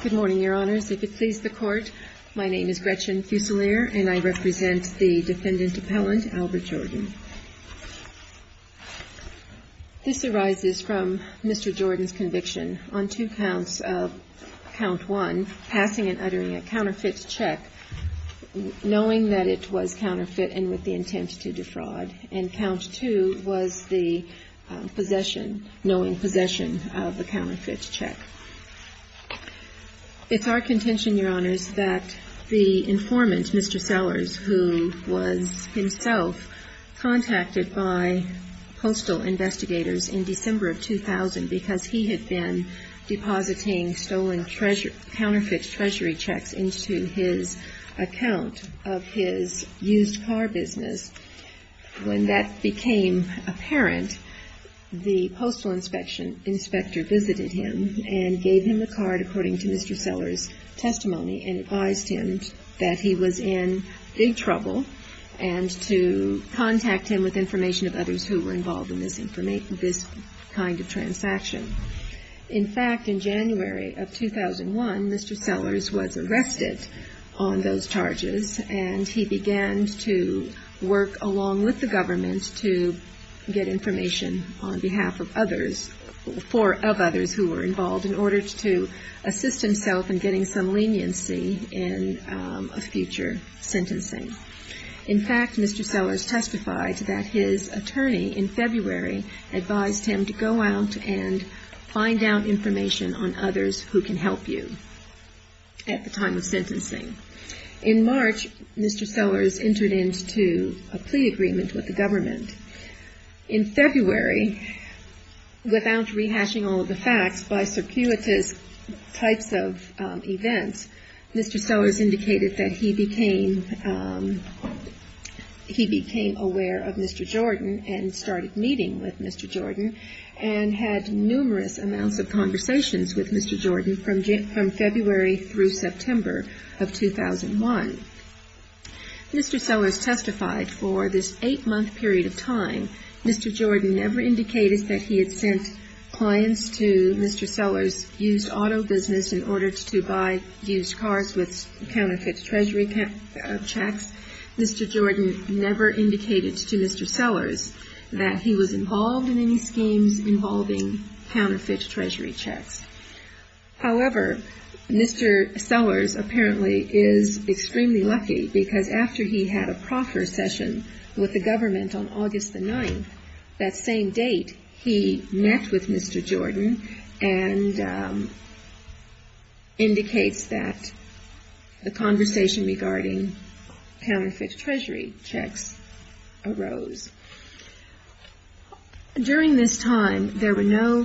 Good morning, your honors. If it pleases the court, my name is Gretchen Fuselier and I represent the defendant appellant Albert Jordan. This arises from Mr. Jordan's conviction on two counts of count one, passing and uttering a counterfeit check, knowing that it was counterfeit and with the intent to defraud. And count two was the possession, knowing possession of the counterfeit check. It's our contention, your honors, that the informant, Mr. Sellers, who was himself contacted by postal investigators in December of 2000 because he had been depositing stolen counterfeit treasury checks into his account of his used car business, when that became apparent, the postal inspector visited him and gave him the card according to Mr. Sellers' testimony and advised him that he was in big trouble and to contact him with information of others who were involved in this kind of transaction. In fact, in January of 2001, Mr. Sellers was arrested on those charges and he began to work along with the government to get information on behalf of others, for of others who were involved in order to assist himself in getting some leniency in a future sentencing. In fact, Mr. Sellers testified that his attorney in February advised him to go out and find out information on others who can help you at the time of sentencing. In March, Mr. Sellers entered into a plea agreement with the government. In February, without rehashing all of the facts, by circuitous types of events, Mr. Sellers indicated that he became aware of Mr. Jordan and started meeting with Mr. Jordan and had numerous amounts of conversations with Mr. Jordan from February through September of 2001. Mr. Sellers testified for this eight-month period of time, Mr. Jordan never indicated that he had sent clients to Mr. Sellers' used auto business in order to buy used cars with counterfeit treasury checks. Mr. Jordan never indicated to Mr. Sellers that he was involved in any schemes involving counterfeit treasury checks. However, Mr. Sellers apparently is extremely lucky because after he had a proffer session with the government on August the 9th, that same date, he met with Mr. Jordan and indicates that a conversation regarding counterfeit treasury checks arose. During this time, there were no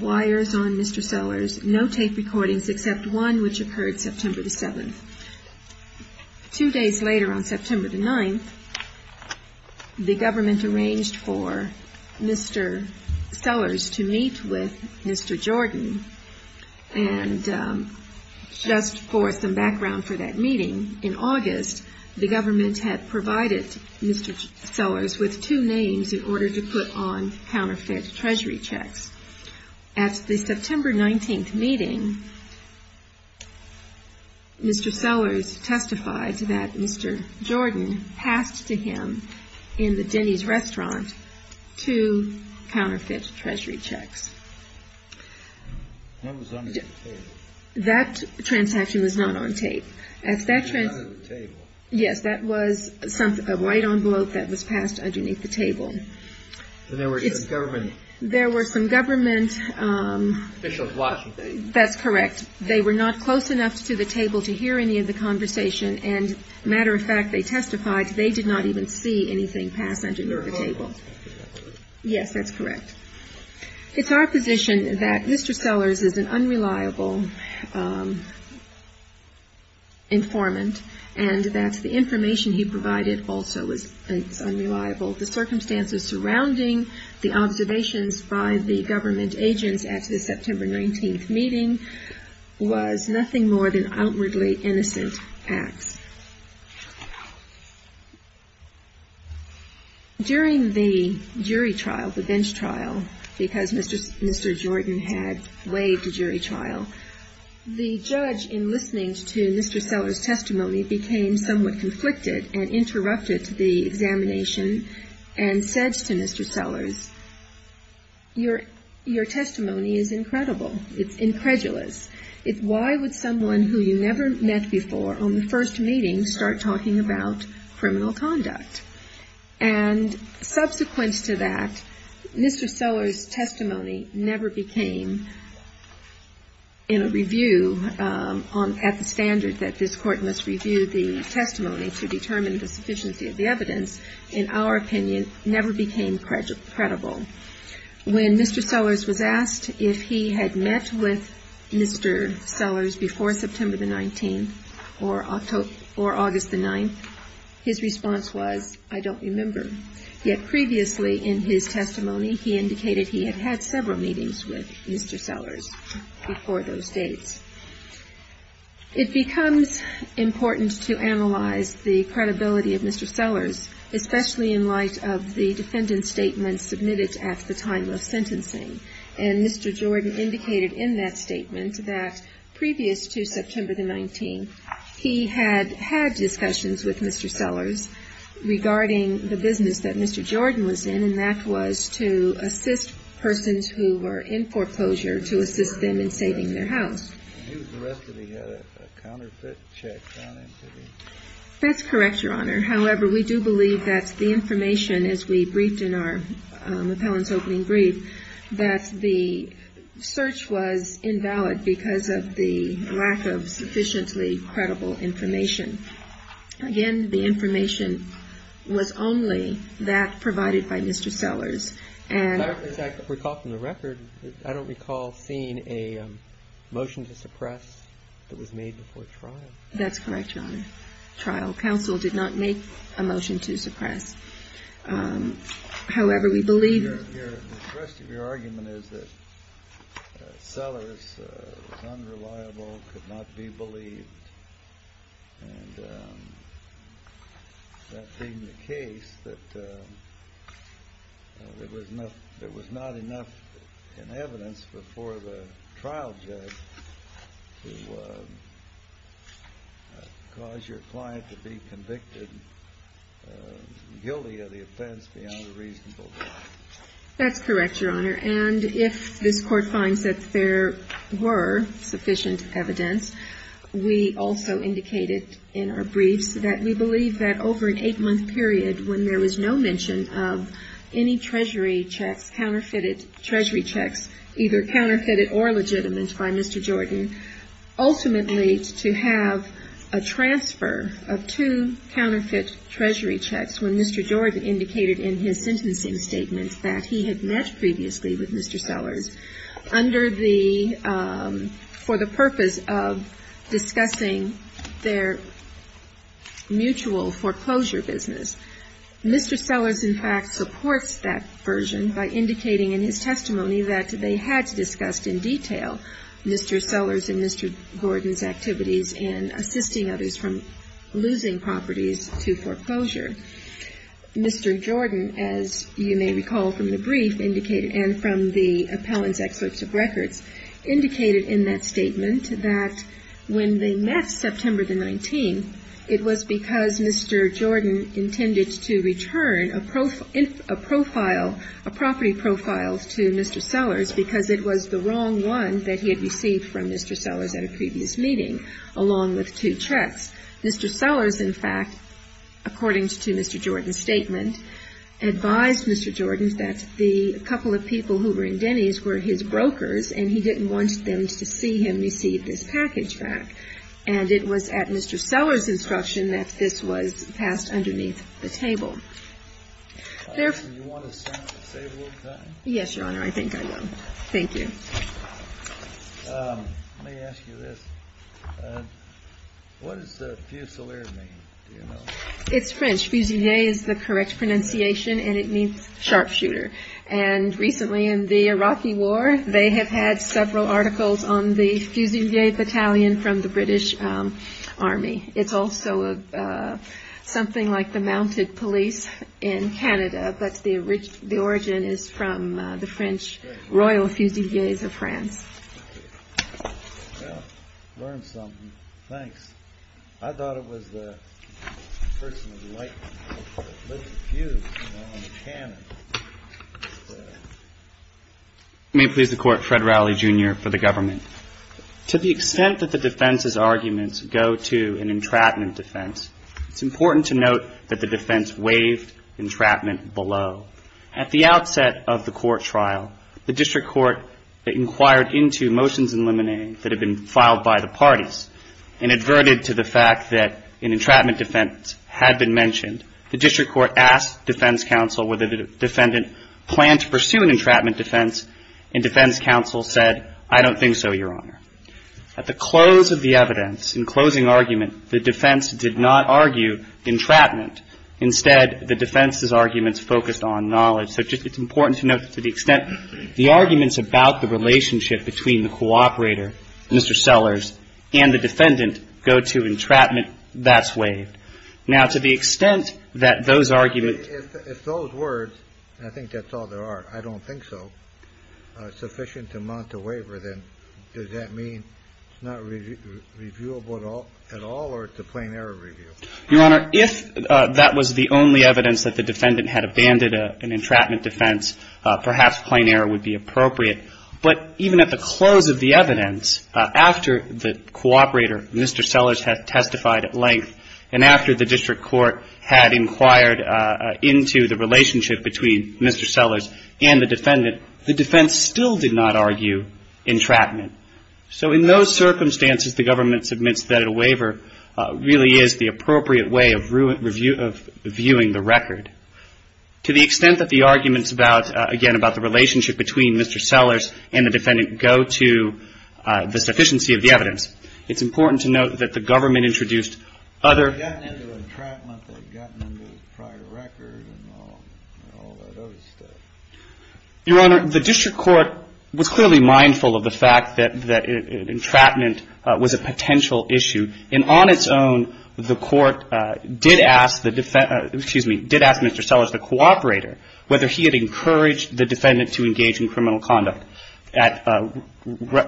wires on Mr. Sellers, no tape recordings, except one which occurred September the 7th. Two days later, on September the 9th, the government arranged for Mr. Sellers to meet with Mr. Jordan. And just for some background for that meeting, in August, the government had provided Mr. Sellers with two names in order to put on counterfeit treasury checks. At the September 19th meeting, Mr. Sellers testified that Mr. Jordan passed to him in the Denny's restaurant two counterfeit treasury checks. That transaction was not on tape. Yes, that was a white envelope that was passed underneath the table. There were some government officials watching. That's correct. They were not close enough to the table to hear any of the conversation. And matter of fact, they testified they did not even see anything pass under the table. Yes, that's correct. It's our position that Mr. Sellers is an unreliable informant and that the information he provided also is unreliable. The circumstances surrounding the observations by the government agents at the September 19th meeting was nothing more than outwardly innocent acts. During the jury trial, the bench trial, because Mr. Jordan had waived the jury trial, the judge in listening to Mr. Sellers' testimony became somewhat conflicted and interrupted the examination and said to Mr. Sellers, your testimony is incredible. It's incredulous. Why would someone who you never met before on the first meeting start talking about criminal conduct? And subsequent to that, Mr. Sellers' testimony never became, in a review at the standard that this Court must review the testimony to determine the sufficiency of the evidence, in our opinion, never became credible. When Mr. Sellers was asked if he had met with Mr. Sellers before September the 19th or August the 9th, his response was, I don't remember. Yet previously in his testimony, he indicated he had had several meetings with Mr. Sellers before those dates. It becomes important to analyze the credibility of Mr. Sellers, especially in light of the defendant's statements submitted to the jury trial. And Mr. Jordan indicated in that statement that previous to September the 19th, he had had discussions with Mr. Sellers regarding the business that Mr. Jordan was in, and that was to assist persons who were in foreclosure, to assist them in saving their house. And he was arrested. He had a counterfeit check found in his house. That's correct, Your Honor. However, we do believe that the information, as we briefed in our appellant's opening brief, that the search was invalid because of the lack of sufficiently credible information. Again, the information was only that provided by Mr. Sellers. If I recall from the record, I don't recall seeing a motion to suppress that was made before trial. That's correct, Your Honor. Trial counsel did not make a motion to suppress. However, we believe... The rest of your argument is that Sellers was unreliable, could not be believed, and that being the case, that Mr. Jordan did not make a motion to suppress. There was not enough in evidence before the trial judge to cause your client to be convicted, guilty of the offense, beyond a reasonable doubt. That's correct, Your Honor. And if this Court finds that there were sufficient evidence, we also indicated in our briefs that we believe that over an eight-month period, when there was no mention of any treasurer in the case, that Mr. Jordan was unreliable. We believe that Mr. Jordan was unreliable, and that Mr. Jordan was not able to have a transfer of two counterfeit treasury checks, either counterfeited or legitimate by Mr. Jordan, ultimately to have a transfer of two counterfeit treasury checks when Mr. Jordan indicated in his sentencing statement that he had met previously with Mr. Sellers for the purpose of discussing their mutual foreclosure business. Mr. Sellers, in fact, supports that version by indicating in his testimony that they had discussed in detail Mr. Sellers' and Mr. Gordon's activities in assisting others from losing properties to foreclosure. Mr. Jordan, as you may recall from the brief indicated, and from the appellant's excerpts of records, indicated in that statement that when they met September the 19th, it was because Mr. Jordan intended to meet with Mr. Jordan for the purpose of discussing their mutual foreclosure business. And Mr. Jordan indicated that he intended to return a profile, a property profile to Mr. Sellers because it was the wrong one that he had received from Mr. Sellers at a previous meeting, along with two checks. Mr. Sellers, in fact, according to Mr. Jordan's statement, advised Mr. Jordan that the couple of people who were in Denny's were his brokers, and he didn't want them to see him receive this package back. And it was at Mr. Sellers' instruction that this was passed underneath the check. Do you want to say a little something? Yes, Your Honor, I think I will. Thank you. Let me ask you this. What does the fusilier mean? It's French. Fusilier is the correct pronunciation, and it means sharpshooter. And recently in the Iraqi war, they have had several articles on the fusilier battalion from the British Army. It's also something like the mounted police in Canada, but the origin is from the French Royal Fusiliers of France. I learned something. Thanks. I thought it was the person who lit the fuse on the cannon. May it please the Court, Fred Rowley, Jr. for the Government. Thank you. Your Honor, if that was the only evidence that the defendant had abandoned an entrapment defense, perhaps plain error would be appropriate. In the close of the evidence, after the cooperator, Mr. Sellers, had testified at length, and after the District Court had inquired into the relationship between Mr. Sellers and the defendant, the defense still did not argue entrapment. So in those circumstances, the Government submits that a waiver really is the appropriate way of viewing the record. To the extent that the arguments about, again, about the relationship between Mr. Sellers and the defendant go to the sufficiency of the evidence, it's important to note that the Government introduced other Your Honor, the District Court was clearly mindful of the fact that entrapment was a potential issue. And on its own, the Court did ask Mr. Sellers, the cooperator, whether he had encouraged the defendant to engage in criminal conduct. At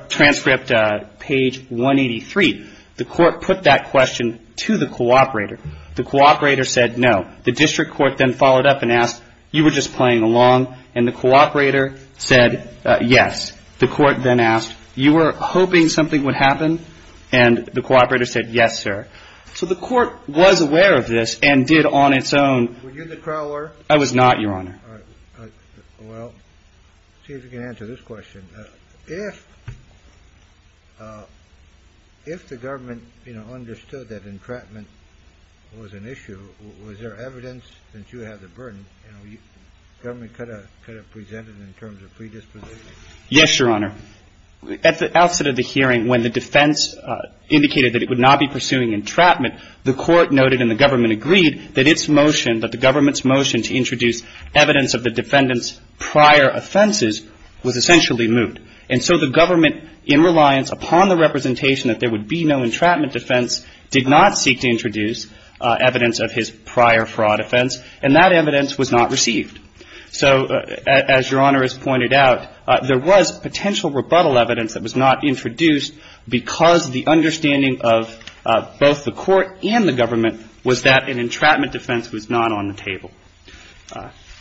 transcript page 183, the Court put that question to the cooperator. The cooperator said no. The District Court then followed up and asked, you were just playing along? And the cooperator said yes. The Court then asked, you were hoping something would happen? And the cooperator said yes, sir. So the Court was aware of this and did on its own. I was not, Your Honor. All right. Well, let's see if we can answer this question. If the Government, you know, understood that entrapment was an issue, was there evidence that you had the burden? You know, the Government could have presented in terms of predisposition? Yes, Your Honor. At the outset of the hearing, when the defense indicated that it would not be pursuing entrapment, the Court noted and the Government agreed that its motion, that the Government's motion to introduce evidence of the defendant's prior offenses was essentially moot. And so the Government, in reliance upon the representation that there would be no entrapment defense, did not seek to introduce evidence of his prior fraud offense, and that evidence was not received. So as Your Honor has pointed out, there was potential rebuttal evidence that was not introduced because the understanding of both the Court and the Government was that an entrapment defense was not on the table.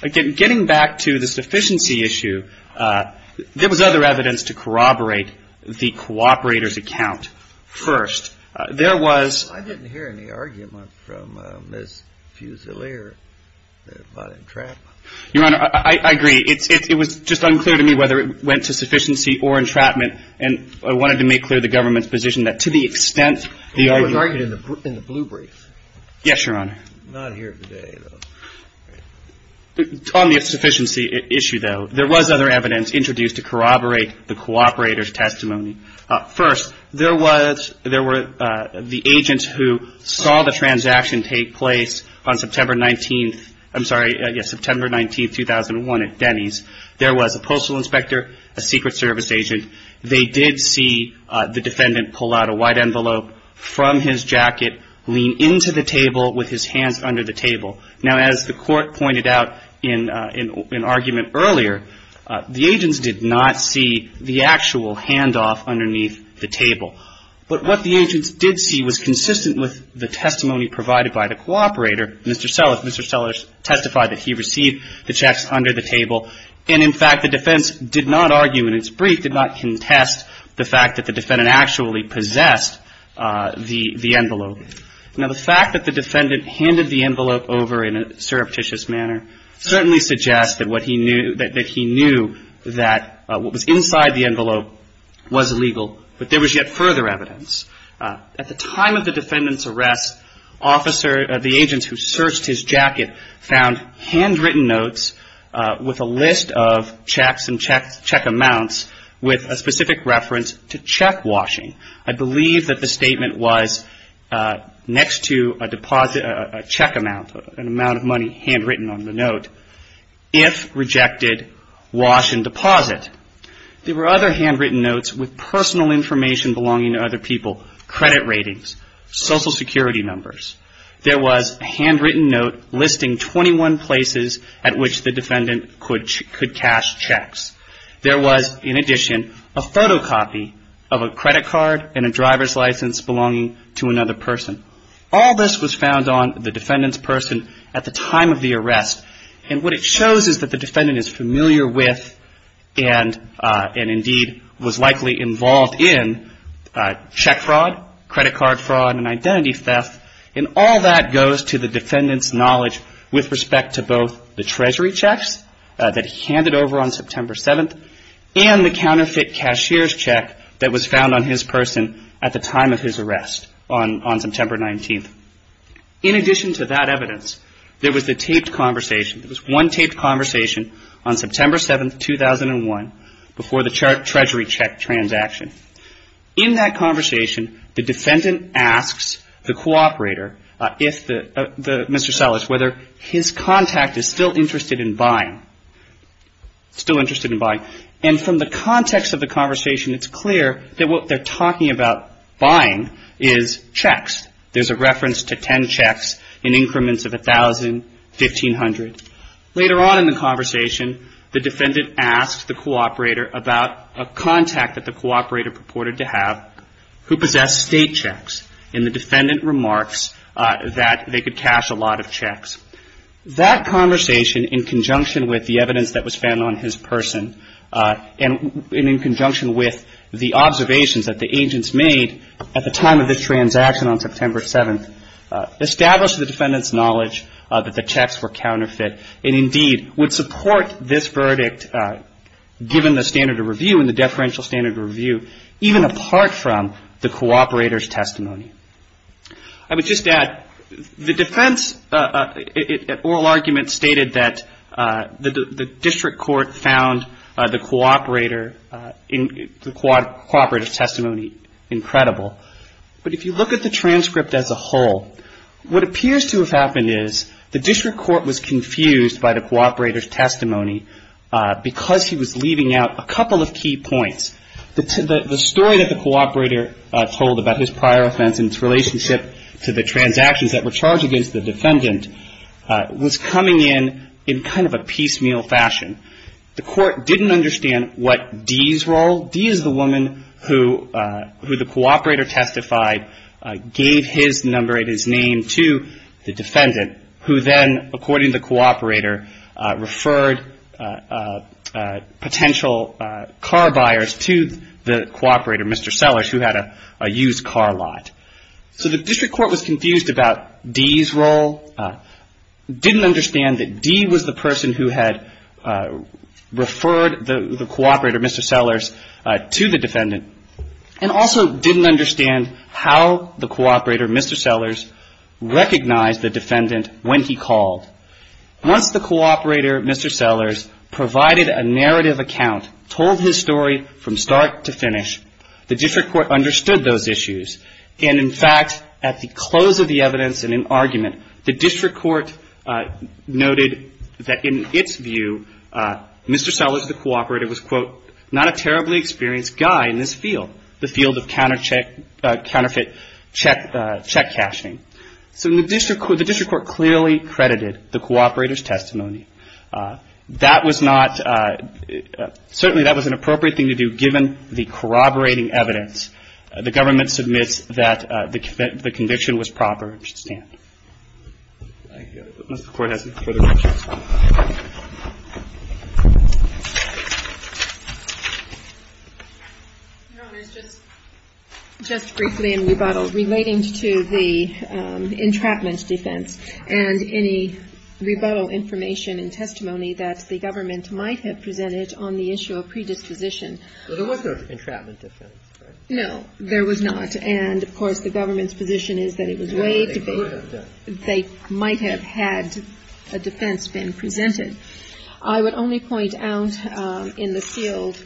Again, getting back to the sufficiency issue, there was other evidence to corroborate the cooperator's account first. I didn't hear any argument from Ms. Fusilier about entrapment. Your Honor, I agree. It was just unclear to me whether it went to sufficiency or entrapment, and I wanted to make clear the Government's position that to the extent the idea... It was argued in the blue brief. Yes, Your Honor. Not here today, though. On the sufficiency issue, though, there was other evidence introduced to corroborate the cooperator's testimony. First, there were the agents who saw the transaction take place on September 19th. I'm sorry, yes, September 19th, 2001 at Denny's. There was a postal inspector, a Secret Service agent. They did see the defendant pull out a white envelope from his jacket, lean into the table with his hands under the table. Now, as the Court pointed out in argument earlier, the agents did not see the actual handoff underneath the table. But what the agents did see was consistent with the testimony provided by the cooperator, Mr. Sellers. Mr. Sellers testified that he received the checks under the table. And, in fact, the defense did not argue in its brief, did not contest the fact that the defendant actually possessed the envelope. Now, the fact that the defendant handed the envelope over in a surreptitious manner certainly suggests that he knew that what was inside the envelope was legal, but there was yet further evidence. At the time of the defendant's arrest, the agents who searched his jacket found handwritten notes with a list of checks and check amounts with a specific reference to check washing. I believe that the statement was next to a check amount, an amount of money handwritten on the note, if rejected, wash and deposit. There were other handwritten notes with personal information belonging to other people, credit ratings, Social Security numbers. There was a handwritten note listing 21 places at which the defendant could cash checks. There was, in addition, a photocopy of a credit card and a driver's license belonging to another person. All this was found on the defendant's person at the time of the arrest. And what it shows is that the defendant is familiar with and, indeed, was likely involved in check fraud, credit card fraud and identity theft. And all that goes to the defendant's knowledge with respect to both the treasury checks that he handed over on September 7th and the counterfeit cashier's check that was found on his person at the time of his arrest on September 19th. In addition to that evidence, there was the taped conversation. There was one taped conversation on September 7th, 2001, before the treasury check transaction. In that conversation, the defendant asks the cooperator, Mr. Sellers, whether his contact is still interested in buying, still interested in buying. And from the context of the conversation, it's clear that what they're talking about buying is checks. There's a reference to 10 checks in increments of 1,000, 1,500. Later on in the conversation, the defendant asks the cooperator about a contact that the cooperator purported to have who possessed state checks. And the defendant remarks that they could cash a lot of checks. That conversation, in conjunction with the evidence that was found on his person and in conjunction with the observations that the agents made at the time of this transaction on September 7th, established the defendant's knowledge that the checks were counterfeit and, indeed, would support this verdict, given the standard of review and the deferential standard of review, even apart from the cooperator's testimony. I would just add, the defense at oral argument stated that the district court found the cooperator's testimony incredible. But if you look at the transcript as a whole, what appears to have happened is the district court was confused by the cooperator's testimony because he was leaving out a couple of key points. The story that the cooperator told about his prior offense and its relationship to the transactions that were charged against the defendant was coming in in kind of a piecemeal fashion. The court didn't understand what D's role D is the woman who the cooperator testified gave his number and his name to the defendant, who then, according to the cooperator, referred potential car buyers to the cooperator, Mr. Sellers, who had a used car lot. So the district court was confused about D's role, didn't understand that D was the person who had referred the cooperator, Mr. Sellers, to the defendant, and also didn't understand how the cooperator, Mr. Sellers, recognized the defendant when he called. Once the cooperator, Mr. Sellers, provided a narrative account, told his story from start to finish, the district court understood those issues. And in fact, at the close of the evidence and in argument, the district court noted that in its view, Mr. Sellers, the cooperator, was, quote, not a terribly experienced guy in this field, the field of counterfeit check cashing. So the district court clearly credited the cooperator's testimony. That was not, certainly that was an appropriate thing to do, given the corroborating evidence. The government submits that the conviction was proper and should stand. Just briefly in rebuttal, relating to the entrapment defense and any rebuttal information and testimony that the government might have presented on the issue of predisposition. Well, there was no entrapment defense, right? No, there was not. And, of course, the government's position is that it was way too big. No, there could have been. They might have had a defense been presented. I would only point out in the sealed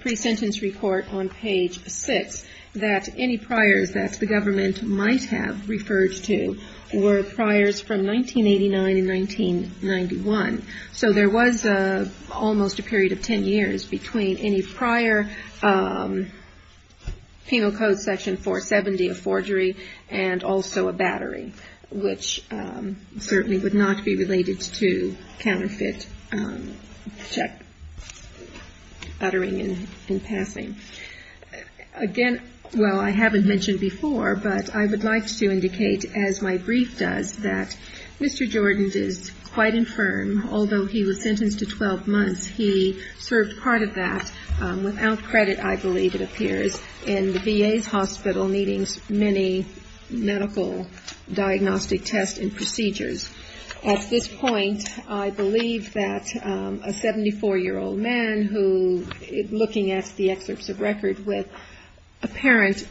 pre-sentence report on page 6 that any priors that the government might have referred to were priors from 1989 and 1991. So there was almost a period of 10 years between any prior Penal Code section 470 of forgery and also a battery, which certainly would not be related to counterfeit check uttering in his defense. In passing. Again, well, I haven't mentioned before, but I would like to indicate, as my brief does, that Mr. Jordan is quite infirm. Although he was sentenced to 12 months, he served part of that, without credit, I believe it appears, in the VA's hospital needing many medical diagnostic tests and procedures. At this point, I believe that a 74-year-old man who, looking at the excerpts of record with apparent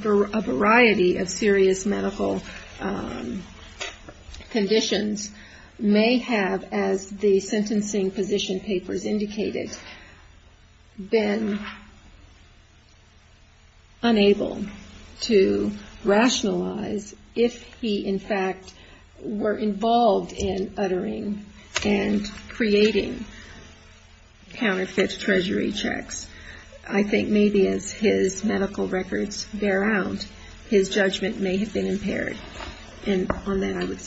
variety of serious medical conditions, may have, as the sentencing position papers indicated, been unable to rationalize if he, in fact, were involved in uttering and creating counterfeit treasury checks. I think maybe as his medical records bear out, his judgment may have been impaired. And on that, I would submit.